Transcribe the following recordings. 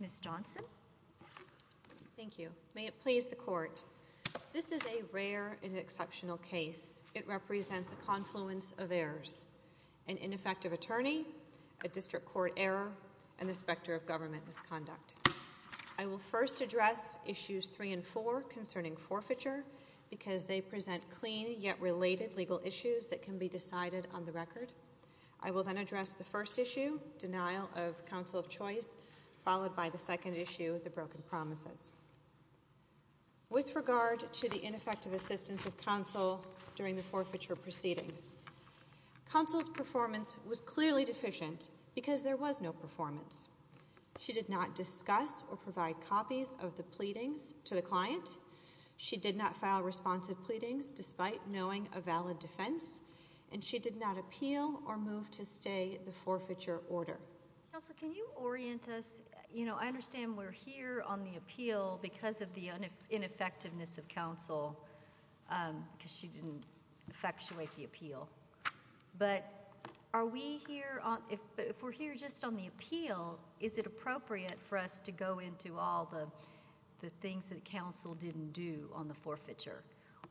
Ms. Johnson. Thank you. May it please the Court. This is a rare and exceptional case. It represents a confluence of errors. An ineffective attorney, a district court error, and the specter of government misconduct. I will first address Issues 3 and 4 concerning forfeiture because they present clean yet related legal issues that can be decided on the record. I will then address the first issue, denial of counsel of choice, followed by the second issue, the broken promises. With regard to the ineffective assistance of counsel during the forfeiture proceedings, counsel's performance was clearly deficient because there was no performance. She did not discuss or provide copies of the pleadings to the client. She did not file responsive pleadings despite knowing a valid defense, and she did not appeal or move to stay the forfeiture order. Counsel, can you orient us? You know, I understand we're here on the appeal because of the ineffectiveness of counsel, because she didn't effectuate the appeal. But are we here on—if we're here just on the appeal, is it appropriate for us to go into all the things that counsel didn't do on the forfeiture?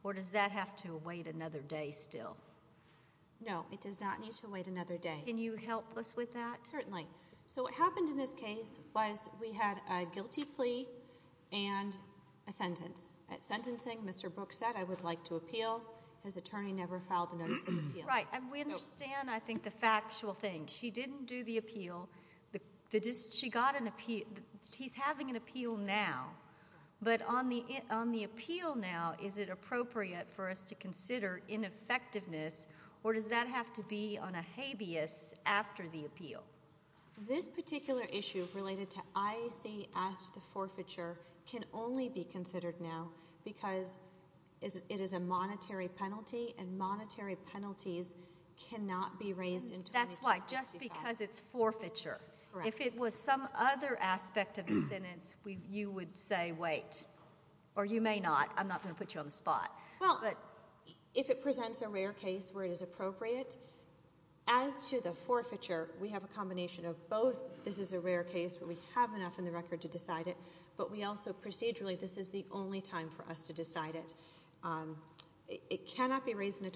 Or does that have to wait another day still? No, it does not need to wait another day. Can you help us with that? Certainly. So what happened in this case was we had a guilty plea and a sentence. At sentencing, Mr. Brooks said, I would like to appeal. His attorney never filed a notice of appeal. Right. And we understand, I think, the factual thing. She didn't do the appeal. She got an appeal. He's having an appeal now. But on the appeal now, is it appropriate for us to consider ineffectiveness, or does that have to be on a habeas after the appeal? This particular issue related to IAC asked the forfeiture can only be considered now because it is a monetary penalty, and monetary penalties cannot be raised until— That's why. Just because it's forfeiture. If it was some other aspect of the sentence, you would say, wait. Or you may not. I'm not going to put you on the spot. Well, if it presents a rare case where it is appropriate, as to the forfeiture, we have a combination of both. This is a rare case where we have enough in the record to decide it, but we also procedurally, this is the only time for us to decide it. It cannot be raised in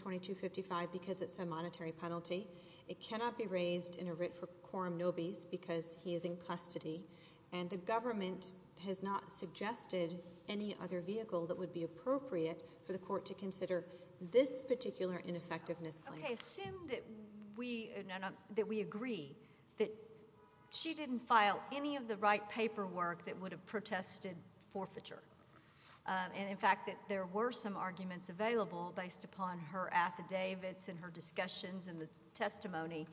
a writ for quorum nobis because he is in custody, and the government has not suggested any other vehicle that would be appropriate for the court to consider this particular ineffectiveness claim. Okay. Assume that we agree that she didn't file any of the right paperwork that would have protested forfeiture, and, in fact, that there were some arguments available based upon her affidavits and her discussions and the testimony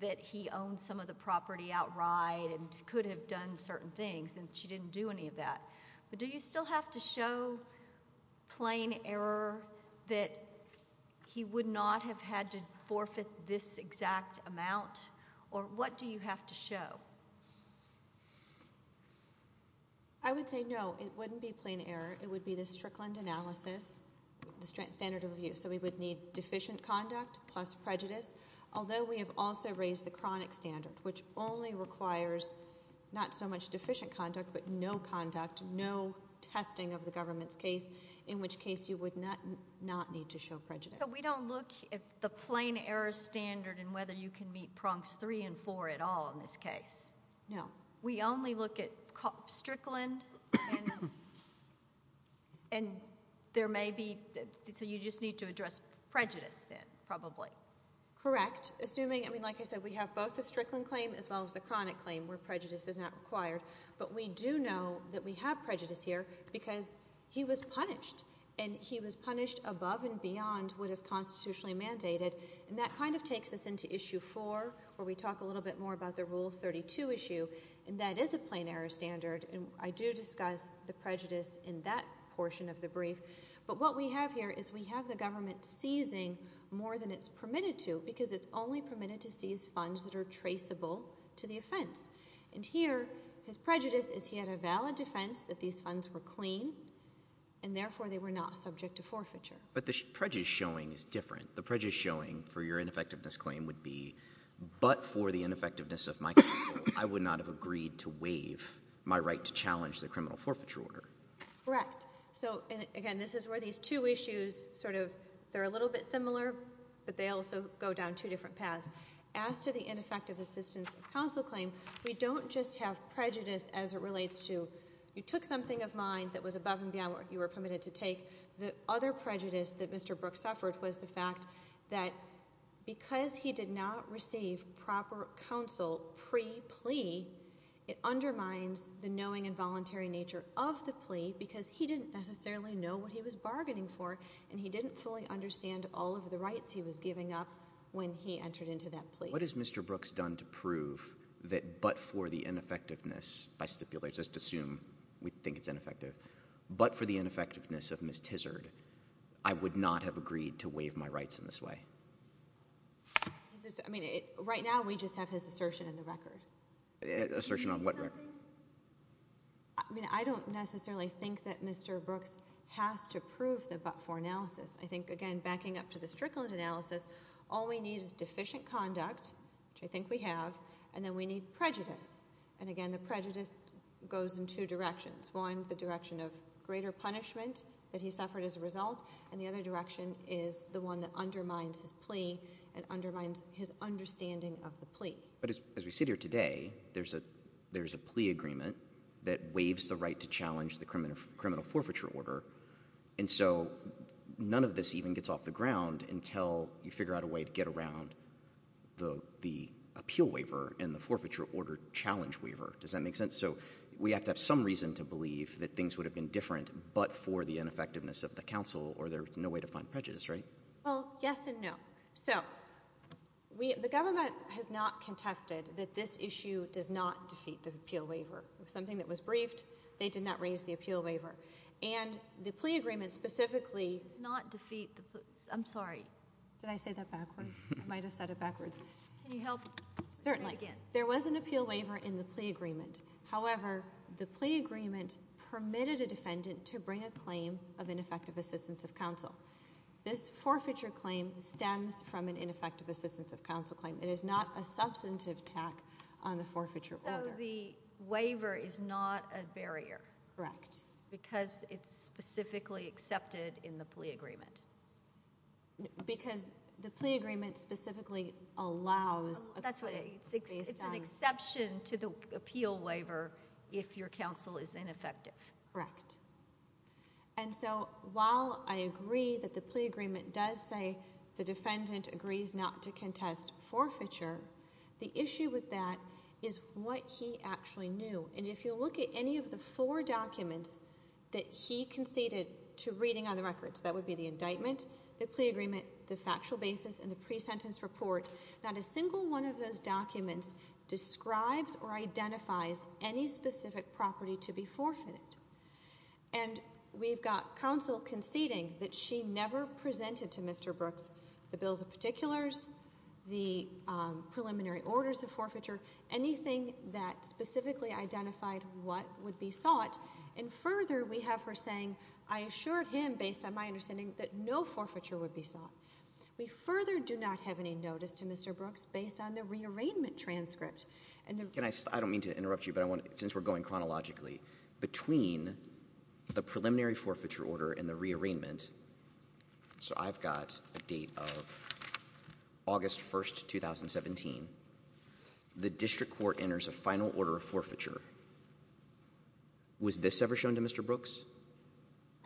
that he owned some of the property outright and could have done certain things, and she didn't do any of that. But do you still have to show plain error that he would not have had to forfeit this exact amount, or what do you have to show? I would say no. It wouldn't be plain error. It would be the Strickland analysis, the standard of view. So we would need deficient conduct plus prejudice, although we have also raised the chronic standard, which only requires not so much deficient conduct but no conduct, no testing of the government's case, in which case you would not need to show prejudice. So we don't look at the plain error standard and whether you can meet prongs three and four at all in this case? No. We only look at Strickland and there may be—so you just need to address prejudice then, probably. Correct. Assuming—I mean, like I said, we have both the Strickland claim as well as the chronic claim where prejudice is not required, but we do know that we have prejudice here because he was punished, and he was punished above and beyond what is constitutionally mandated, and that kind of takes us into Issue 4, where we talk a little bit more about the And that is a plain error standard, and I do discuss the prejudice in that portion of the brief, but what we have here is we have the government seizing more than it's permitted to because it's only permitted to seize funds that are traceable to the offense. And here his prejudice is he had a valid defense that these funds were clean, and therefore they were not subject to forfeiture. But the prejudice showing is different. The prejudice showing for your ineffectiveness of my counsel, I would not have agreed to waive my right to challenge the criminal forfeiture order. Correct. So, again, this is where these two issues sort of—they're a little bit similar, but they also go down two different paths. As to the ineffective assistance of counsel claim, we don't just have prejudice as it relates to you took something of mine that was above and beyond what you were permitted to take. The other prejudice that Mr. Brooks suffered was the fact that because he did not receive proper counsel pre-plea, it undermines the knowing and voluntary nature of the plea because he didn't necessarily know what he was bargaining for, and he didn't fully understand all of the rights he was giving up when he entered into that plea. What has Mr. Brooks done to prove that but for the ineffectiveness—by stipulate, just assume we think it's ineffective—but for the ineffectiveness of Ms. Tizard, I would not have agreed to waive my rights in this way. Right now, we just have his assertion in the record. Assertion on what record? I don't necessarily think that Mr. Brooks has to prove the but-for analysis. I think, again, backing up to the strickland analysis, all we need is deficient conduct, which I think we have, and then we need prejudice. And, again, the prejudice goes in two directions—one, the direction of greater punishment that he suffered as a result, and the other direction is the one that undermines his plea and undermines his understanding of the plea. But as we sit here today, there's a plea agreement that waives the right to challenge the criminal forfeiture order, and so none of this even gets off the ground until you figure out a way to get around the appeal waiver and the forfeiture order challenge appeal waiver. Does that make sense? So, we have to have some reason to believe that things would have been different but for the ineffectiveness of the counsel, or there's no way to find prejudice, right? Well, yes and no. So, we—the government has not contested that this issue does not defeat the appeal waiver. It was something that was briefed. They did not raise the appeal waiver. And the plea agreement specifically— Does not defeat the—I'm sorry. Did I say that backwards? I might have said it backwards. Can you help— Certainly. There was an appeal waiver in the plea agreement. However, the plea agreement permitted a defendant to bring a claim of ineffective assistance of counsel. This forfeiture claim stems from an ineffective assistance of counsel claim. It is not a substantive tack on the forfeiture order. So, the waiver is not a barrier? Correct. Because it's specifically accepted in the plea agreement? Because the plea agreement specifically allows— That's what it—it's an exception to the appeal waiver if your counsel is ineffective. Correct. And so, while I agree that the plea agreement does say the defendant agrees not to contest forfeiture, the issue with that is what he actually knew. And if you look at any of the four documents that he conceded to reading on the records—that would be the indictment, the plea agreement, the factual basis, and the pre-sentence report—not a single one of those documents describes or identifies any specific property to be forfeited. And we've got counsel conceding that she never presented to Mr. Brooks the bills of particulars, the preliminary orders of forfeiture, anything that specifically identified what would be sought. And further, we have her saying, I assured him, based on my understanding, that no forfeiture would be sought. We further do not have any notice to Mr. Brooks based on the rearrangement transcript. And the— Can I—I don't mean to interrupt you, but I want to—since we're going chronologically, between the preliminary forfeiture order and the rearrangement—so I've got a date of August 1st, 2017. The district court enters a final order of forfeiture. Was this ever shown to Mr. Brooks?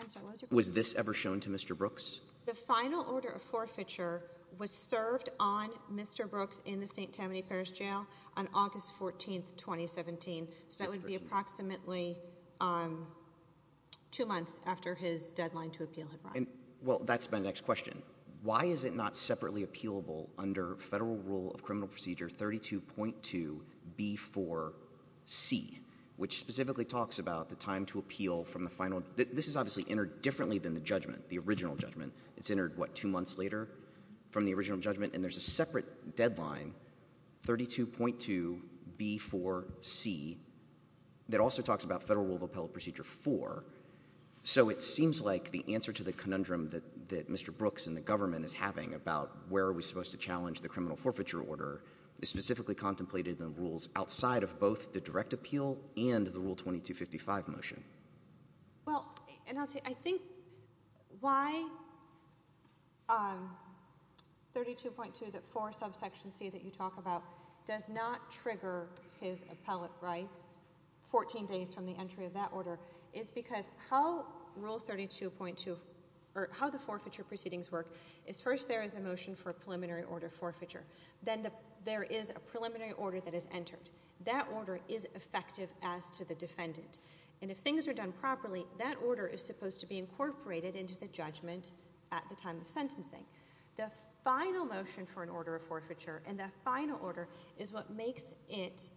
I'm sorry, what was your question? Was this ever shown to Mr. Brooks? The final order of forfeiture was served on Mr. Brooks in the St. Tammany Parish Jail on August 14th, 2017. So that would be approximately two months after his deadline to appeal had run. And—well, that's my next question. Why is it not separately appealable under Federal Rule of Criminal Procedure 32.2b4c, which specifically talks about the time to appeal from the final—this is obviously entered differently than the judgment, the original judgment. It's entered, what, two months later from the original judgment, and there's a separate deadline, 32.2b4c, that also talks about Federal Rule of Appellate Procedure 4. So it seems like the answer to the conundrum that Mr. Brooks and the government is having about where are we supposed to challenge the criminal forfeiture order is specifically contemplated in the rules outside of both the direct appeal and the Rule 2255 motion. Well, and I'll tell you, I think why 32.2b4c that you talk about does not trigger his appellate rights 14 days from the entry of that order is because how Rule 32.2—or how the forfeiture proceedings work is first there is a motion for a preliminary order forfeiture. Then there is a preliminary order that is entered. That order is effective as to the defendant. And if things are done properly, that order is supposed to be incorporated into the judgment at the time of sentencing. The final motion for an order of forfeiture and the final order is what makes it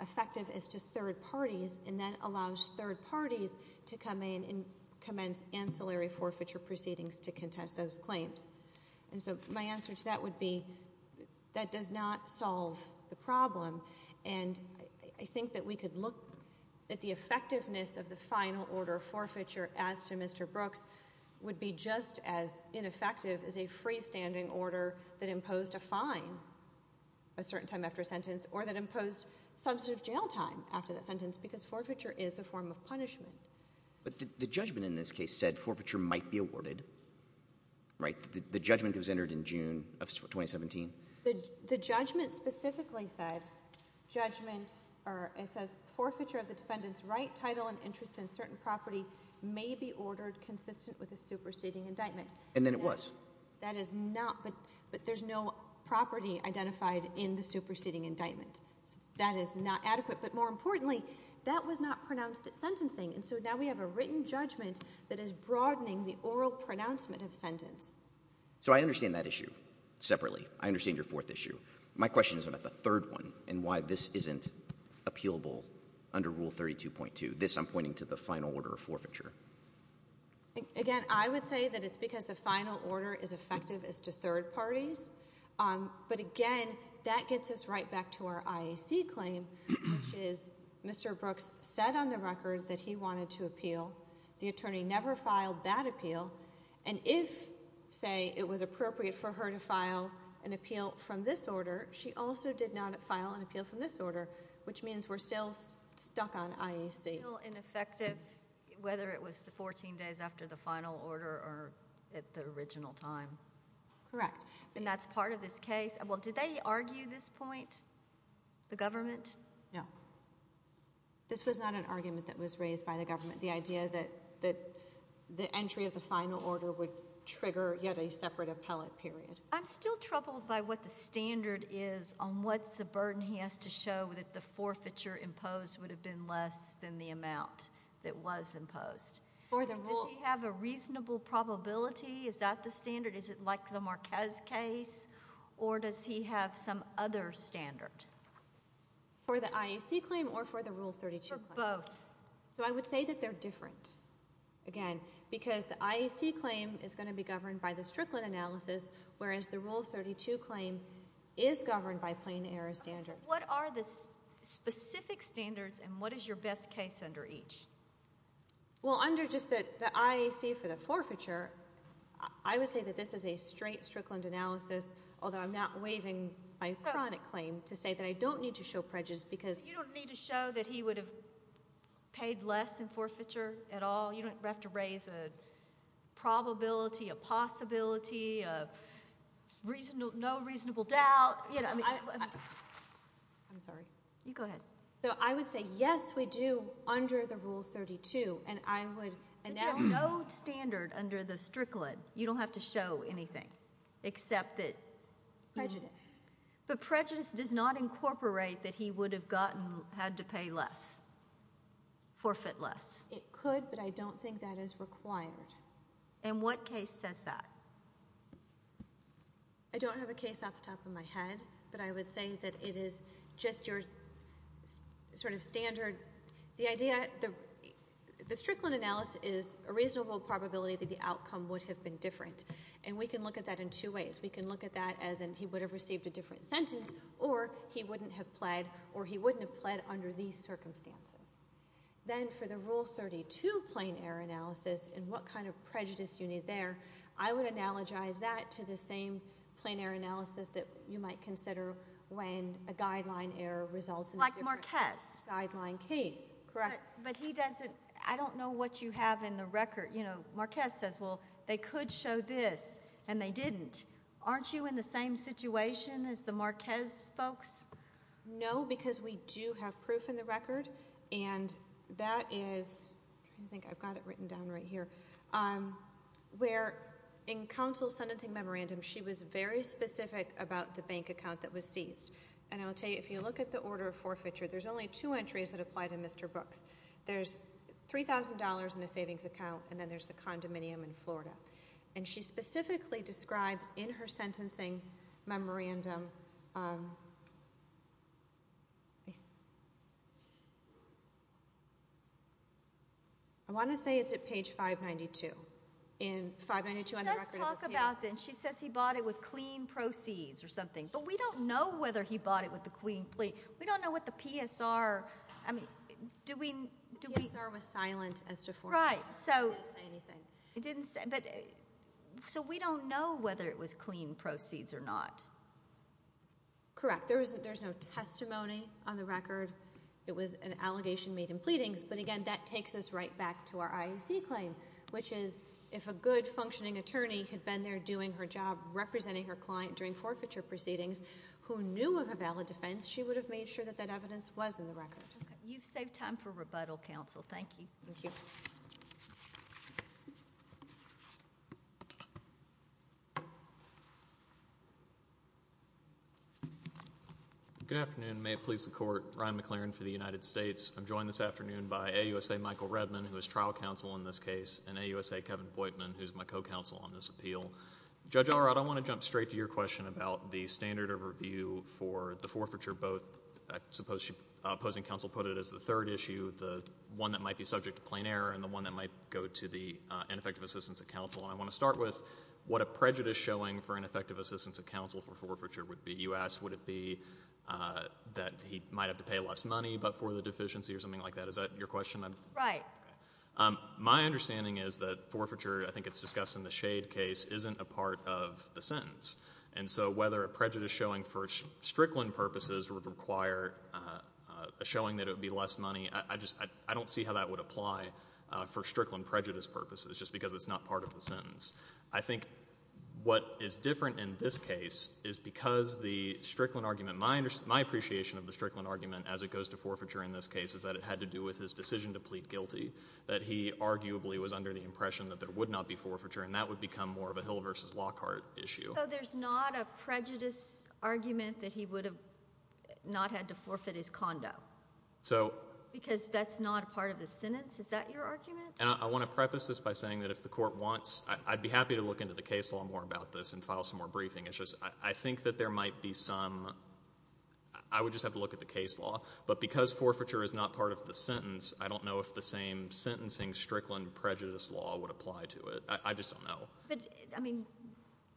effective as to third parties and then allows third parties to come in and commence ancillary forfeiture proceedings to contest those claims. And so my answer to that would be that does not solve the problem. And I think that we could look at the effectiveness of the final order of forfeiture as to Mr. Brooks would be just as ineffective as a freestanding order that imposed a fine a certain time after a sentence or that imposed substantive jail time after that sentence because forfeiture is a form of punishment. But the judgment in this case said forfeiture might be awarded, right? The judgment was entered in June of 2017. The judgment specifically said judgment or it says forfeiture of the defendant's right title and interest in certain property may be ordered consistent with a superseding indictment. And then it was. That is not but but there's no property identified in the superseding indictment. That is not adequate. But more importantly, that was not pronounced at sentencing. And so now we have a written judgment that is broadening the legal pronouncement of sentence. So I understand that issue separately. I understand your fourth issue. My question is about the third one and why this isn't appealable under Rule 32.2. This I'm pointing to the final order of forfeiture. Again, I would say that it's because the final order is effective as to third parties. But again, that gets us right back to our IAC claim, which is Mr. Brooks said on the record that he wanted to appeal. The attorney never filed that appeal. And if, say, it was appropriate for her to file an appeal from this order, she also did not file an appeal from this order, which means we're still stuck on IAC. Still ineffective, whether it was the 14 days after the final order or at the original time. Correct. And that's part of this case. Well, did they argue this point? The government? No. This was not an argument that was raised by the government. The idea that the entry of the final order would trigger yet a separate appellate period. I'm still troubled by what the standard is on what's the burden he has to show that the forfeiture imposed would have been less than the amount that was imposed. Does he have a reasonable probability? Is that the standard? Is it like the Marquez case? Or does he have some other standard? For the IAC claim or for the Rule 32 claim? For both. So I would say that they're different, again, because the IAC claim is going to be governed by the Strickland analysis, whereas the Rule 32 claim is governed by plain error standards. What are the specific standards and what is your best case under each? Well, under just the IAC for the forfeiture, I would say that this is a straight Strickland analysis, although I'm not waiving my chronic claim to say that I don't need to show prejudice because You don't need to show that he would have paid less in forfeiture at all? You don't have to raise a probability, a possibility, a reasonable, no reasonable doubt, you know. I'm sorry. You go ahead. So I would say yes, we do under the Rule 32, and I would. But you have no standard under the Strickland. You don't have to show anything except that. Prejudice. But prejudice does not incorporate that he would have gotten, had to pay less, forfeit less. It could, but I don't think that is required. And what case says that? I don't have a case off the top of my head, but I would say that it is just your sort of standard. The idea, the Strickland analysis is a reasonable probability that the outcome would have been different, and we can look at that in two ways. We can look at that as in he would have received a different sentence, or he wouldn't have pled, or he wouldn't have pled under these circumstances. Then for the Rule 32 plain error analysis, and what kind of prejudice you need there, I would analogize that to the same plain error analysis that you might consider when a guideline error results in a different guideline case. Like Marquez. Correct. But he doesn't, I don't know what you have in the record. You know, Marquez says, well, they could show this, and they didn't. Aren't you in the same situation as the Marquez folks? No, because we do have a case, I think I've got it written down right here, where in counsel's sentencing memorandum she was very specific about the bank account that was seized. And I'll tell you, if you look at the order of forfeiture, there's only two entries that apply to Mr. Brooks. There's $3,000 in a savings account, and then there's the condominium in Florida. And she specifically describes in her sentencing memorandum, I think it's $3,000 in a savings account, and I want to say it's at page 592. She does talk about this. She says he bought it with clean proceeds or something. But we don't know whether he bought it with the clean, we don't know what the PSR, I mean, do we? The PSR was silent as to forfeiture. Right. It didn't say anything. So we don't know whether it was clean proceeds or not. Correct. There's no testimony on the record. And that brings us right back to our IAC claim, which is if a good functioning attorney had been there doing her job, representing her client during forfeiture proceedings, who knew of a valid defense, she would have made sure that that evidence was in the record. You've saved time for rebuttal, counsel. Thank you. Thank you. Good afternoon. May it please the Court. Ryan McLaren for the United States. I'm joined this afternoon by AUSA Michael Redman, who is trial counsel in this case, and AUSA Kevin Boitman, who's my co-counsel on this appeal. Judge Allred, I want to jump straight to your question about the standard of review for the forfeiture, both, I suppose opposing counsel put it as the third issue, the one that might be subject to plain error and the one that might go to the ineffective assistance of counsel. And I want to start with what a prejudice showing for ineffective assistance of counsel for forfeiture would be. You asked, would it be that he might have to pay less money but for the deficiency or something like that. Is that your question? Right. My understanding is that forfeiture, I think it's discussed in the Shade case, isn't a part of the sentence. And so whether a prejudice showing for Strickland purposes would require a showing that it would be less money, I just, I don't see how that would apply for Strickland prejudice purposes, just because it's not part of the sentence. I think what is different in this case is because the Strickland argument, my appreciation of the Strickland argument as it goes to forfeiture in this case is that it had to do with his decision to plead guilty, that he arguably was under the impression that there would not be forfeiture and that would become more of a Hill v. Lockhart issue. So there's not a prejudice argument that he would have not had to forfeit his condo? So Because that's not part of the sentence? Is that your argument? And I want to preface this by saying that if the Court wants, I'd be happy to look into the case law more about this and file some more briefing issues. I think that there might be some, I would just have to look at the case law. But because forfeiture is not part of the sentence, I don't know if the same sentencing Strickland prejudice law would apply to it. I just don't know. But, I mean,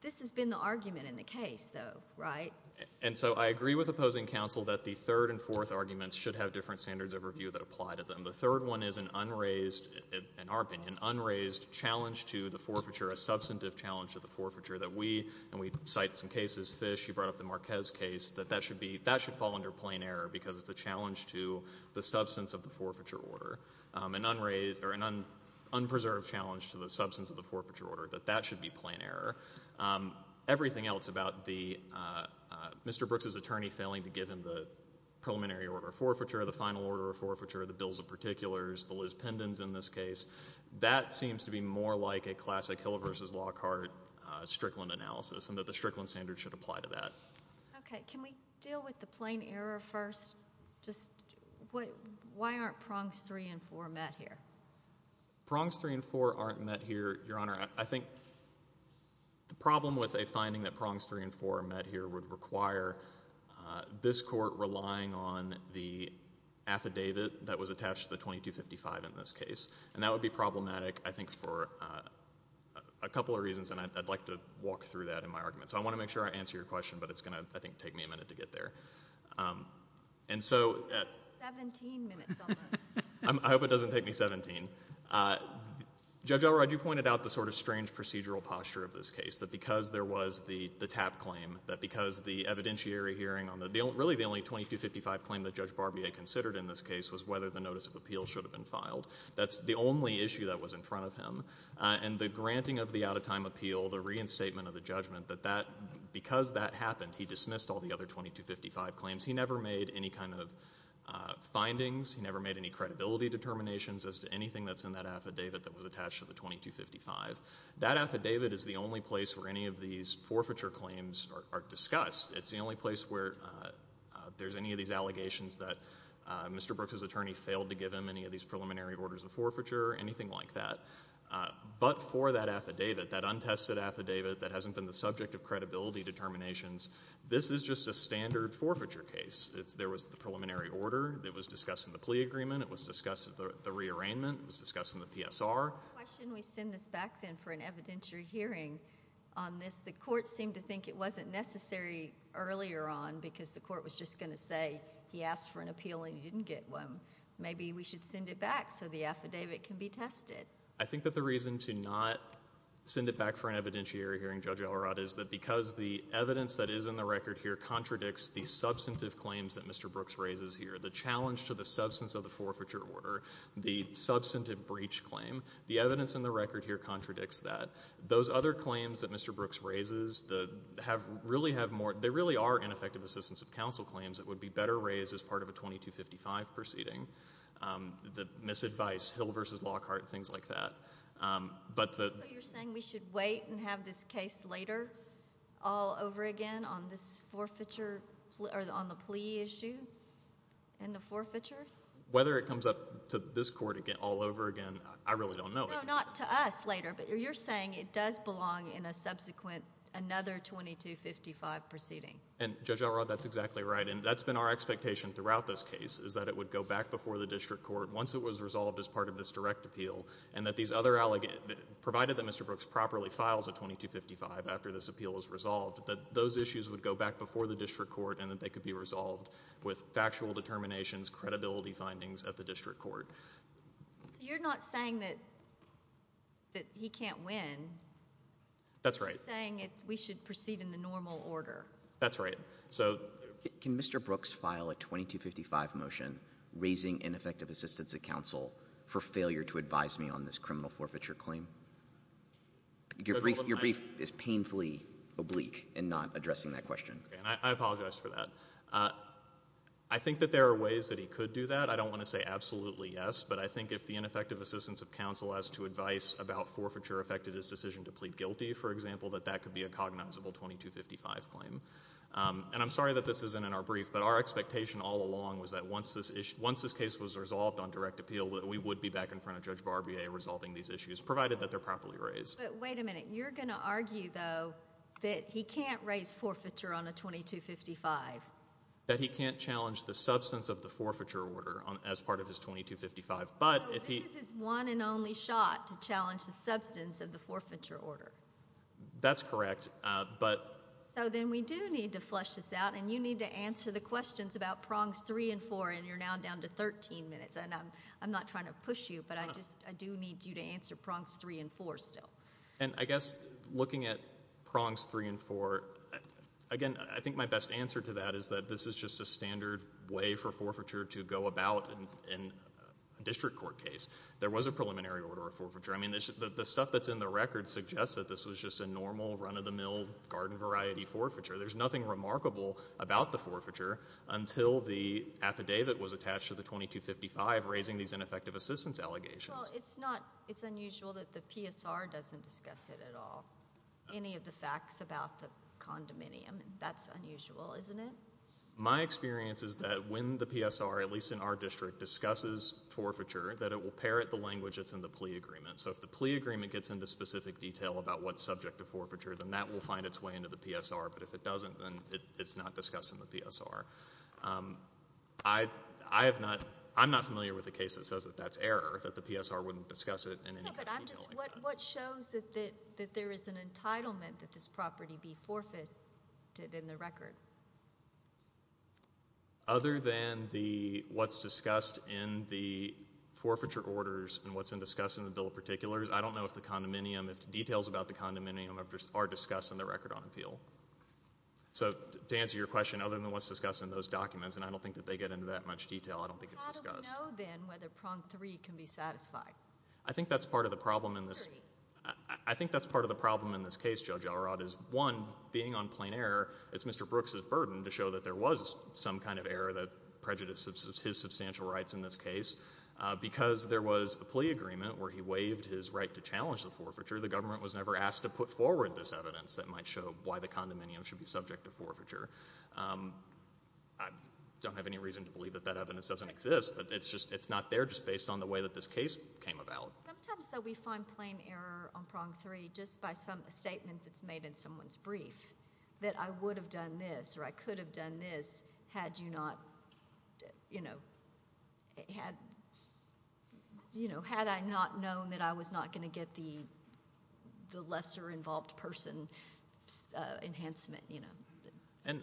this has been the argument in the case, though, right? And so I agree with opposing counsel that the third and fourth arguments should have different standards of review that apply to them. The third one is an unraised, in our opinion, unraised challenge to the forfeiture, a substantive challenge to the forfeiture that we, and we cite some cases, Fish, you brought up the Marquez case, that that should fall under plain error because it's a challenge to the substance of the forfeiture order. An unraised, or an unpreserved challenge to the substance of the forfeiture order, that that should be plain error. Everything else about the, Mr. Brooks' attorney failing to give him the preliminary order of forfeiture, the final order of forfeiture, the bills of particulars, the Liz Pendens in this case, that seems to be more like a classic Hill v. Lockhart Strickland analysis, and that the Strickland standard should apply to that. Okay, can we deal with the plain error first? Just, what, why aren't prongs three and four met here? Prongs three and four aren't met here, Your Honor. I think the problem with a finding that prongs three and four are met here would require this court relying on the affidavit that was attached to the 2255 in this case, and that would be problematic, I think, for a couple of reasons, and I'd like to walk through that in my argument. So I want to make sure I answer your question, but it's going to, I think, take me a minute to get there. And so... Seventeen minutes almost. I hope it doesn't take me seventeen. Judge Elrod, you pointed out the sort of strange procedural posture of this case, that because there was the TAP claim, that because the evidentiary hearing on the, really the only 2255 claim that Judge Barbier considered in this case was whether the notice of appeal should have been filed. That's the only issue that was in front of him, and the granting of the out-of-time appeal, the reinstatement of the judgment, that that, because that happened, he dismissed all the other 2255 claims. He never made any kind of findings. He never made any credibility determinations as to anything that's in that affidavit that was attached to the 2255. That affidavit is the only place where any of these forfeiture claims are discussed. It's the only place where there's any of these allegations that Mr. Brooks' attorney failed to give him, any of these preliminary orders of forfeiture, anything like that. But for that affidavit, that untested affidavit, that hasn't been the subject of credibility determinations, this is just a standard forfeiture case. It's, there was the preliminary order that was discussed in the plea agreement. It was discussed at the, the rearrangement. It was discussed in the PSR. Why shouldn't we send this back then for an evidentiary hearing on this? The court seemed to think it wasn't necessary earlier on because the court was just going to say, he asked for an appeal and he didn't get one. Maybe we should send it back so the affidavit can be tested. I think that the reason to not send it back for an evidentiary hearing, Judge Elrod, is that because the evidence that is in the record here contradicts the substantive claims that Mr. Brooks raises here, the challenge to the substance of the forfeiture order, the substantive breach claim, the evidence in the record here contradicts that. Those other claims that Mr. Brooks raises, the, have, really have more, they really are ineffective assistance of counsel claims that would be better raised as part of a 2255 proceeding. The misadvice, Hill v. Lockhart, things like that, but the. So you're saying we should wait and have this case later, all over again, on this forfeiture, or on the plea issue and the forfeiture? Whether it comes up to this court again, all over again, I really don't know. No, not to us later, but you're saying it does belong in a subsequent, another 2255 proceeding. And Judge Elrod, that's exactly right, and that's been our expectation throughout this court, once it was resolved as part of this direct appeal, and that these other, provided that Mr. Brooks properly files a 2255 after this appeal is resolved, that those issues would go back before the district court and that they could be resolved with factual determinations, credibility findings at the district court. So you're not saying that, that he can't win. That's right. You're saying that we should proceed in the normal order. That's right. So. Can Mr. Brooks file a 2255 motion raising ineffective assistance of counsel for failure to advise me on this criminal forfeiture claim? Your brief is painfully oblique in not addressing that question. Okay, and I apologize for that. I think that there are ways that he could do that. I don't want to say absolutely yes, but I think if the ineffective assistance of counsel as to advice about forfeiture affected his decision to plead guilty, for example, that that could be a cognizable 2255 claim. And I'm sorry that this isn't in our brief, but our expectation all along was that once this case was resolved on direct appeal, we would be back in front of Judge Barbier resolving these issues, provided that they're properly raised. But wait a minute. You're going to argue, though, that he can't raise forfeiture on a 2255. That he can't challenge the substance of the forfeiture order as part of his 2255, but if he. So this is his one and only shot to challenge the substance of the forfeiture order. That's correct, but. So then we do need to flush this out, and you need to answer the questions about prongs three and four, and you're now down to 13 minutes, and I'm not trying to push you, but I just, I do need you to answer prongs three and four still. And I guess looking at prongs three and four, again, I think my best answer to that is that this is just a standard way for forfeiture to go about in a district court case. There was a preliminary order of forfeiture. I mean, the stuff that's in the record suggests that this was just a normal run-of-the-mill garden variety forfeiture. There's nothing remarkable about the forfeiture until the affidavit was attached to the 2255 raising these ineffective assistance allegations. Well, it's not, it's unusual that the PSR doesn't discuss it at all. Any of the facts about the condominium, that's unusual, isn't it? My experience is that when the PSR, at least in our district, discusses forfeiture, that it will parrot the language that's in the plea agreement. If it doesn't discuss forfeiture, then that will find its way into the PSR, but if it doesn't, then it's not discussed in the PSR. I have not, I'm not familiar with a case that says that that's error, that the PSR wouldn't discuss it in any kind of detail like that. What shows that there is an entitlement that this property be forfeited in the record? Other than the, what's discussed in the forfeiture orders and what's discussed in the bill of rights, none of those things are discussed in the record on appeal. So to answer your question, other than what's discussed in those documents, and I don't think that they get into that much detail, I don't think it's discussed. How do we know, then, whether prong three can be satisfied? I think that's part of the problem in this, I think that's part of the problem in this case, Judge Elrod, is one, being on plain error, it's Mr. Brooks' burden to show that there was some kind of error that prejudices his substantial rights in this case. Because there was a plea agreement where he waived his right to challenge the forfeiture, the government was never asked to put forward this evidence that might show why the condominium should be subject to forfeiture. I don't have any reason to believe that that evidence doesn't exist, but it's just, it's not there just based on the way that this case came about. Sometimes, though, we find plain error on prong three just by some statement that's made in someone's brief, that I would have done this, or I could have done this, had you not, you know, had, you know, had I not known that I was not going to get the lesser-involved person enhancement, you know. And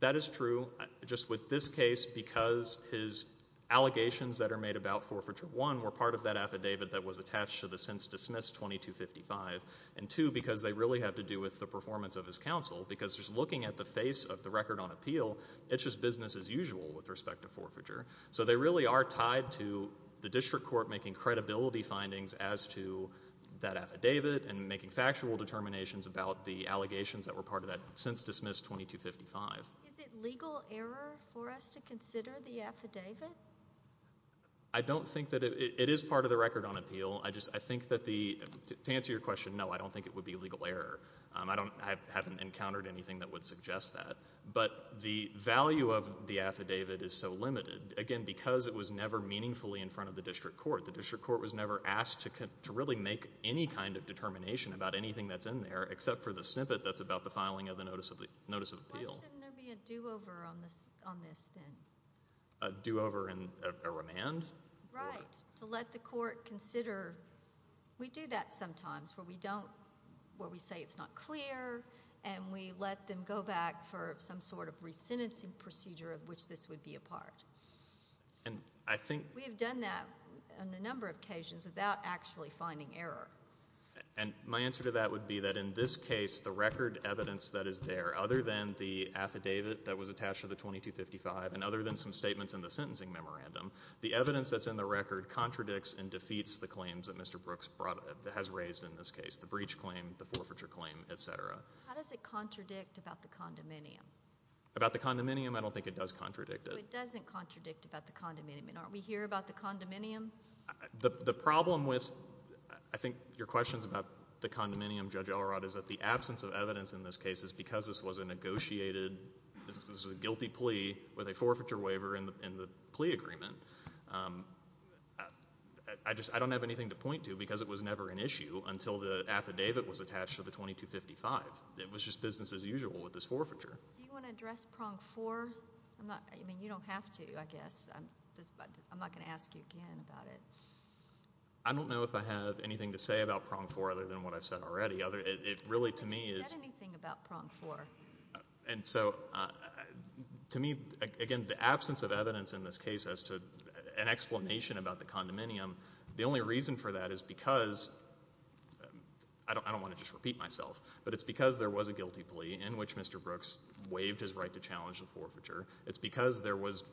that is true, just with this case, because his allegations that are made about forfeiture, one, were part of that affidavit that was attached to the since-dismissed 2255, and two, because they really have to do with the performance of his counsel, because just looking at the face of the record on appeal, it's just business as usual with respect to forfeiture. So they really are tied to the district court making credibility findings as to that affidavit and making factual determinations about the allegations that were part of that since-dismissed 2255. Is it legal error for us to consider the affidavit? I don't think that it is part of the record on appeal. I just, I think that the, to answer your question, no, I don't think it would be legal error. I don't, I haven't encountered anything that would suggest that. But the value of the affidavit is so limited, again, because it was never meaningfully in front of the district court. The district court was never asked to really make any kind of determination about anything that's in there, except for the snippet that's about the filing of the notice of appeal. Why shouldn't there be a do-over on this, on this then? A do-over and a remand? Right. To let the court consider, we do that sometimes where we don't, where we say it's not clear and we let them go back for some sort of re-sentencing procedure of which this would be a part. And I think We have done that on a number of occasions without actually finding error. And my answer to that would be that in this case, the record evidence that is there, other than the affidavit that was attached to the 2255 and other than some statements in the record, contradicts and defeats the claims that Mr. Brooks brought, has raised in this case. The breach claim, the forfeiture claim, et cetera. How does it contradict about the condominium? About the condominium? I don't think it does contradict it. So it doesn't contradict about the condominium. And aren't we here about the condominium? The problem with, I think, your questions about the condominium, Judge Elrod, is that the absence of evidence in this case is because this was a negotiated, this was a guilty plea with a forfeiture waiver in the plea agreement. I just, I don't have anything to point to because it was never an issue until the affidavit was attached to the 2255. It was just business as usual with this forfeiture. Do you want to address prong four? I mean, you don't have to, I guess. I'm not going to ask you again about it. I don't know if I have anything to say about prong four other than what I've said already. It really, to me, is You haven't said anything about prong four. And so, to me, again, the absence of evidence in this case as to an explanation about the condominium, the only reason for that is because, I don't want to just repeat myself, but it's because there was a guilty plea in which Mr. Brooks waived his right to challenge the forfeiture. It's because there was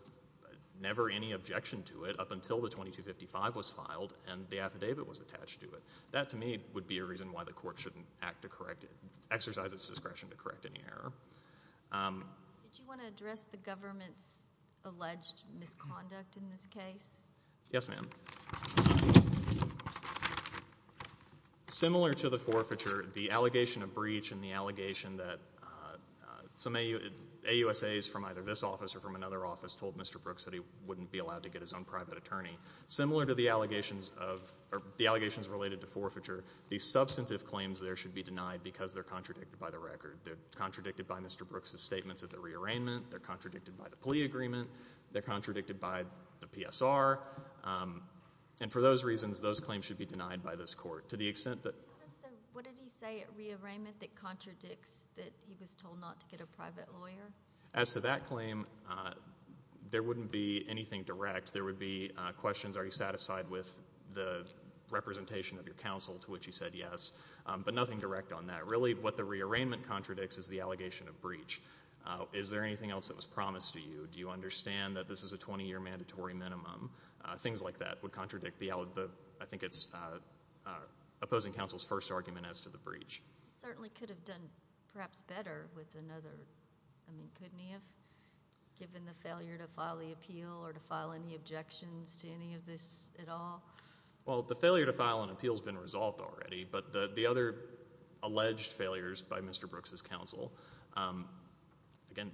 never any objection to it up until the 2255 was filed and the affidavit was attached to it. That to me would be a reason why the court shouldn't act to correct it, exercise its power to correct an error. Did you want to address the government's alleged misconduct in this case? Yes, ma'am. Similar to the forfeiture, the allegation of breach and the allegation that some AUSAs from either this office or from another office told Mr. Brooks that he wouldn't be allowed to get his own private attorney. Similar to the allegations of, or the allegations related to forfeiture, the substantive claims there should be denied because they're contradicted by the record. They're contradicted by Mr. Brooks' statements at the rearrangement, they're contradicted by the plea agreement, they're contradicted by the PSR, and for those reasons, those claims should be denied by this court. To the extent that... What did he say at rearrangement that contradicts that he was told not to get a private lawyer? As to that claim, there wouldn't be anything direct. There would be questions, are you satisfied with the representation of your counsel to which he said yes, but nothing direct on that. Really what the rearrangement contradicts is the allegation of breach. Is there anything else that was promised to you? Do you understand that this is a 20-year mandatory minimum? Things like that would contradict the, I think it's opposing counsel's first argument as to the breach. He certainly could have done perhaps better with another, I mean, couldn't he have, given the failure to file the appeal or to file any objections to any of this at all? Well, the failure to file an appeal has been resolved already, but the other alleged failures by Mr. Brooks' counsel, again,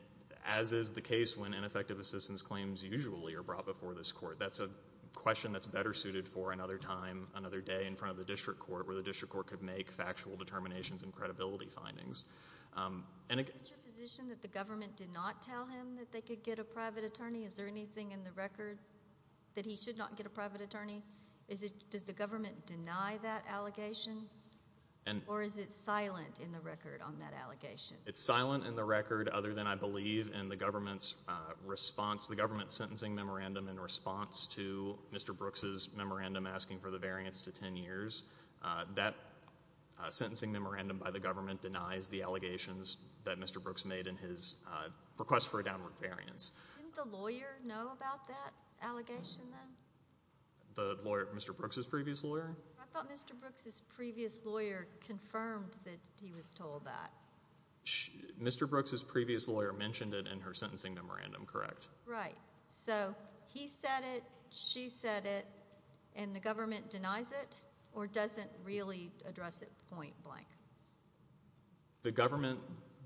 as is the case when ineffective assistance claims usually are brought before this court, that's a question that's better suited for another time, another day in front of the district court where the district court could make factual determinations and credibility findings. Is it your position that the government did not tell him that they could get a private attorney? Is there anything in the record that he should not get a private attorney? Does the government deny that allegation, or is it silent in the record on that allegation? It's silent in the record other than, I believe, in the government's response, the government's sentencing memorandum in response to Mr. Brooks' memorandum asking for the variance to 10 years. That sentencing memorandum by the government denies the allegations that Mr. Brooks made in his request for a downward variance. Didn't the lawyer know about that allegation, then? The lawyer? Mr. Brooks' previous lawyer? I thought Mr. Brooks' previous lawyer confirmed that he was told that. Mr. Brooks' previous lawyer mentioned it in her sentencing memorandum, correct? Right. So, he said it, she said it, and the government denies it, or doesn't really address it point blank? The government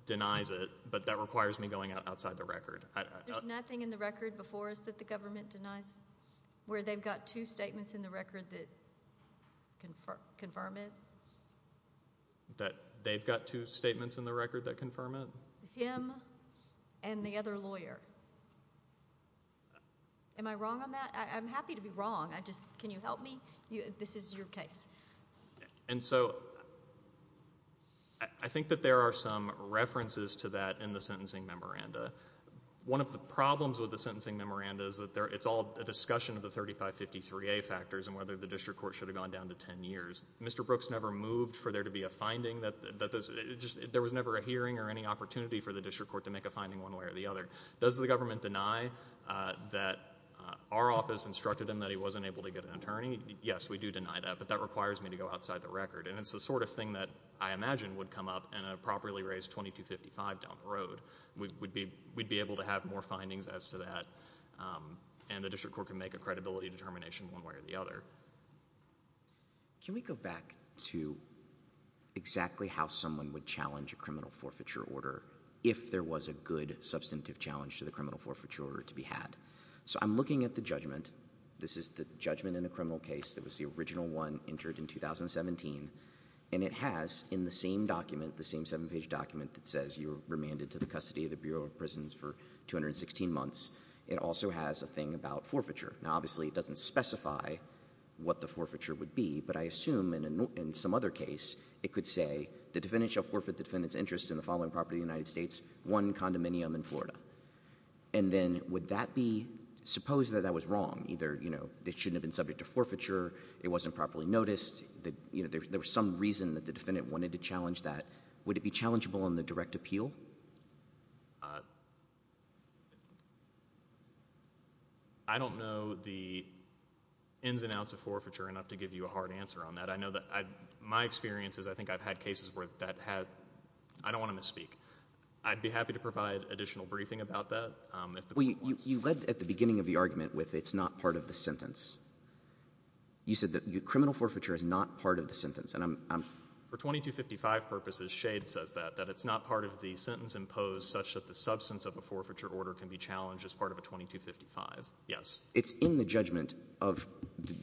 denies it, but that requires me going outside the record. There's nothing in the record before us that the government denies, where they've got two statements in the record that confirm it? That they've got two statements in the record that confirm it? Him and the other lawyer. Am I wrong on that? I'm happy to be wrong. I just, can you help me? This is your case. And so, I think that there are some references to that in the sentencing memoranda. One of the problems with the sentencing memoranda is that it's all a discussion of the 3553A factors and whether the district court should have gone down to 10 years. Mr. Brooks never moved for there to be a finding, there was never a hearing or any opportunity for the district court to make a finding one way or the other. Does the government deny that our office instructed him that he wasn't able to get an attorney? Yes, we do deny that, but that requires me to go outside the record. And it's the sort of thing that I imagine would come up in a properly raised 2255 down the road. We'd be able to have more findings as to that, and the district court can make a credibility determination one way or the other. Can we go back to exactly how someone would challenge a criminal forfeiture order if there was a good substantive challenge to the criminal forfeiture order to be had? So I'm looking at the judgment. This is the judgment in a criminal case that was the original one entered in 2017, and it has in the same document, the same seven-page document that says you're remanded to the custody of the Bureau of Prisons for 216 months, it also has a thing about forfeiture. Now obviously it doesn't specify what the forfeiture would be, but I assume in some other case it could say the defendant shall forfeit the defendant's interest in the following property of the United States, one condominium in Florida. And then would that be, suppose that that was wrong, either it shouldn't have been subject to forfeiture, it wasn't properly noticed, there was some reason that the defendant wanted to challenge that, would it be challengeable in the direct appeal? I don't know the ins and outs of forfeiture enough to give you a hard answer on that. I know that my experience is I think I've had cases where that has, I don't want to misspeak. I'd be happy to provide additional briefing about that. You led at the beginning of the argument with it's not part of the sentence. You said that criminal forfeiture is not part of the sentence, and I'm... For 2255 purposes, Shade says that, that it's not part of the sentence imposed such that the substance of a forfeiture order can be challenged as part of a 2255, yes. It's in the judgment of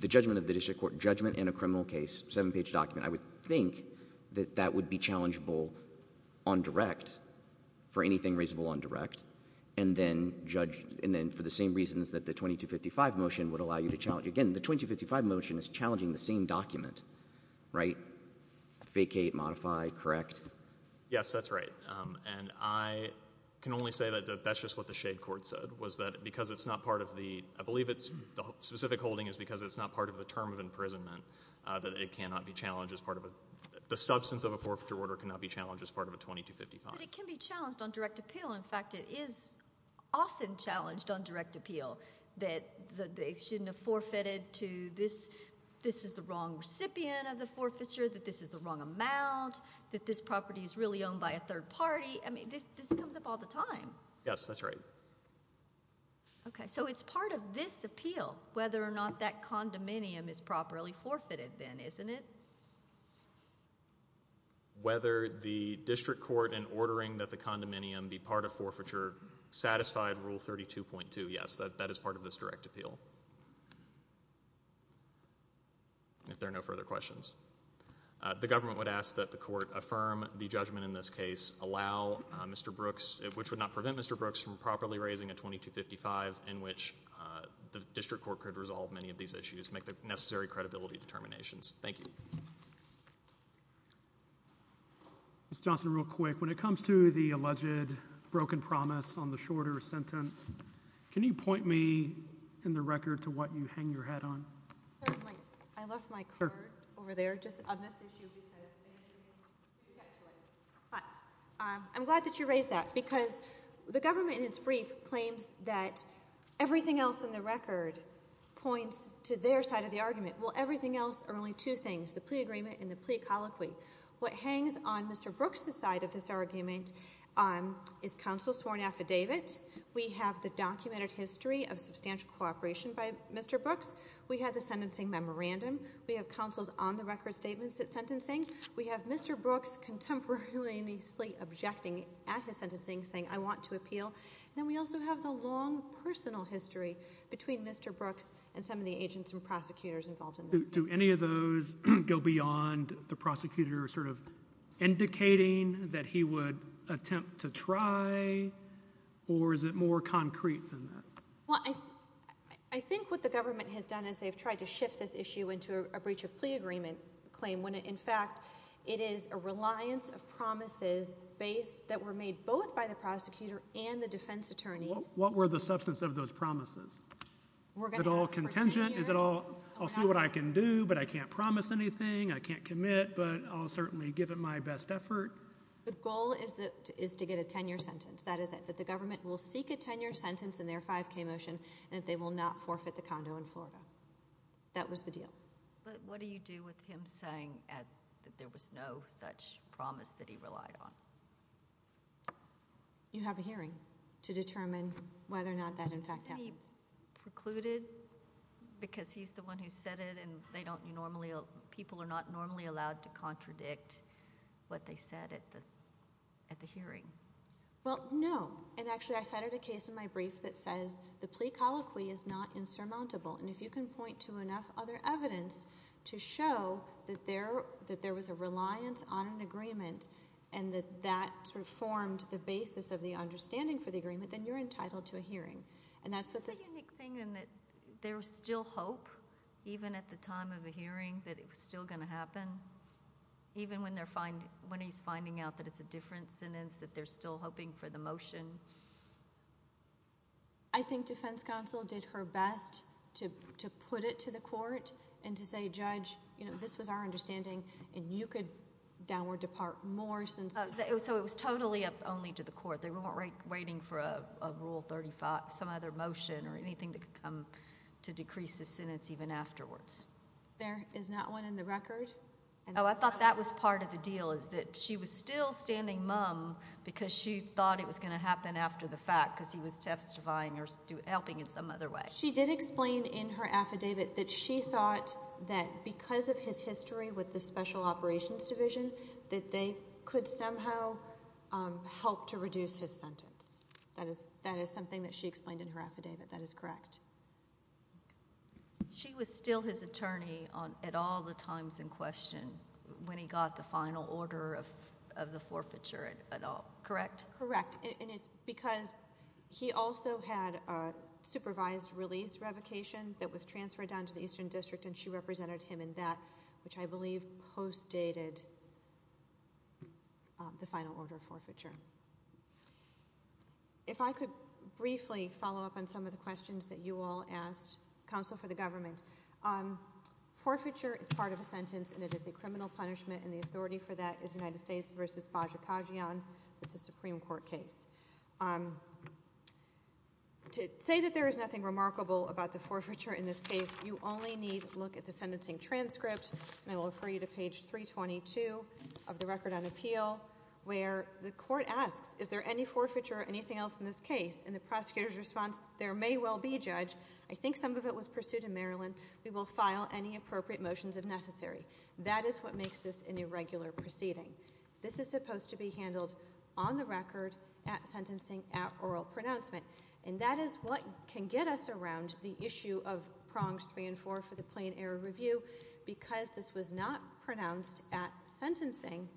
the district court, judgment in a criminal case, seven-page document. I would think that that would be challengeable on direct, for anything reasonable on direct, and then for the same reasons that the 2255 motion would allow you to challenge. Again, the 2255 motion is challenging the same document, right? Vacate, modify, correct? Yes, that's right, and I can only say that that's just what the Shade court said, was that because it's not part of the, I believe the specific holding is because it's not part of the term of imprisonment, that it cannot be challenged as part of a, the substance of a forfeiture order cannot be challenged as part of a 2255. But it can be challenged on direct appeal. In fact, it is often challenged on direct appeal that they shouldn't have forfeited to this, this is the wrong recipient of the forfeiture, that this is the wrong amount, that this property is really owned by a third party. I mean, this comes up all the time. Yes, that's right. Okay, so it's part of this appeal, whether or not that condominium is properly forfeited then, isn't it? Whether the district court, in ordering that the condominium be part of forfeiture, satisfied Rule 32.2, yes, that is part of this direct appeal. If there are no further questions. The government would ask that the court affirm the judgment in this case, allow Mr. Brooks, which would not prevent Mr. Brooks from properly raising a 2255 in which the district court could resolve many of these issues, make the necessary credibility determinations. Thank you. Ms. Johnson, real quick, when it comes to the alleged broken promise on the shorter sentence, can you point me in the record to what you hang your head on? Certainly. I left my card over there, just on this issue because I need to get to it. But I'm glad that you raised that because the government in its brief claims that everything else in the record points to their side of the argument. Well, everything else are only two things, the plea agreement and the plea colloquy. What hangs on Mr. Brooks' side of this argument is counsel's sworn affidavit. We have the documented history of substantial cooperation by Mr. Brooks. We have the sentencing memorandum. We have counsel's on-the-record statements at sentencing. We have Mr. Brooks contemporaneously objecting at his sentencing, saying, I want to appeal. Then we also have the long personal history between Mr. Brooks and some of the agents and prosecutors involved in this case. Do any of those go beyond the prosecutor sort of indicating that he would attempt to try, or is it more concrete than that? Well, I think what the government has done is they've tried to shift this issue into a breach of plea agreement claim, when in fact it is a reliance of promises that were made both by the prosecutor and the defense attorney. What were the substance of those promises? Is it all contingent? Is it all, I'll see what I can do, but I can't promise anything, I can't commit, but I'll certainly give it my best effort? The goal is to get a 10-year sentence. That is it, that the government will seek a 10-year sentence in their 5K motion and that they will not forfeit the condo in Florida. That was the deal. But what do you do with him saying that there was no such promise that he relied on? You have a hearing to determine whether or not that, in fact, happens. Is he precluded because he's the one who said it and they don't normally, people are not normally allowed to contradict what they said at the hearing? Well, no, and actually I cited a case in my brief that says the plea colloquy is not insurmountable. And if you can point to enough other evidence to show that there was a reliance on an agreement and that that sort of formed the basis of the understanding for the agreement, then you're entitled to a hearing. And that's what this. The unique thing in that there was still hope, even at the time of the hearing, that it was still going to happen, even when he's finding out that it's a different sentence, that they're still hoping for the motion. I think defense counsel did her best to put it to the court and to say, Judge, this was our understanding and you could downward depart more since... So it was totally up only to the court. They weren't waiting for a Rule 35, some other motion or anything that could come to decrease the sentence even afterwards. There is not one in the record? Oh, I thought that was part of the deal, is that she was still standing mum because she thought it was going to happen after the fact because he was testifying or helping in some other way. She did explain in her affidavit that she thought that because of his history with the Special Operations Division, that they could somehow help to reduce his sentence. That is something that she explained in her affidavit. That is correct. She was still his attorney at all the times in question when he got the final order of the forfeiture at all, correct? Correct, and it's because he also had a supervised release revocation that was transferred down to the Eastern District and she represented him in that, which I believe post-dated the final order of forfeiture. If I could briefly follow up on some of the questions that you all asked, counsel for the government. Forfeiture is part of a sentence and it is a criminal punishment and the authority for that is United States versus Bajrakajian. It's a Supreme Court case. To say that there is nothing remarkable about the forfeiture in this case, you only need to look at the sentencing transcript and I will refer you to page 322 of the record on appeal where the court asks, is there any forfeiture or anything else in this case and the prosecutor's response, there may well be judge. I think some of it was pursued in Maryland. We will file any appropriate motions if necessary. That is what makes this an irregular proceeding. This is supposed to be handled on the record at sentencing at oral pronouncement and that is what can get us around the issue of prongs three and four for the plain error review because this was not pronounced at sentencing.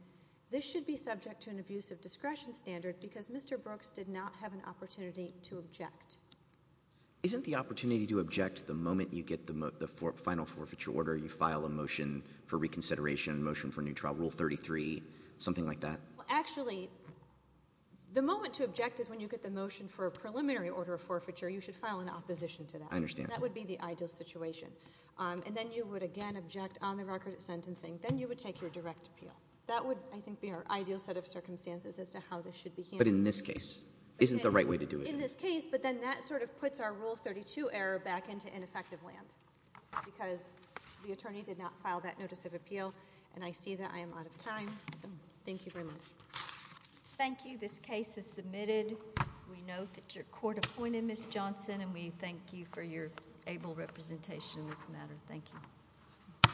This should be subject to an abuse of discretion standard because Mr. Brooks did not have an opportunity to object. Isn't the opportunity to object the moment you get the final forfeiture order, you file a motion for reconsideration, motion for new trial rule 33, something like that? Well, actually, the moment to object is when you get the motion for a preliminary order of forfeiture, you should file an opposition to that. I understand. That would be the ideal situation. And then you would again object on the record at sentencing. Then you would take your direct appeal. That would, I think, be our ideal set of circumstances as to how this should be handled. But in this case, isn't the right way to do it? In this case, but then that sort of puts our rule 32 error back into ineffective land because the attorney did not file that notice of appeal and I see that I am out of time. Thank you very much. Thank you. This case is submitted. We note that your court appointed Ms. Johnson and we thank you for your able representation in this matter. Thank you.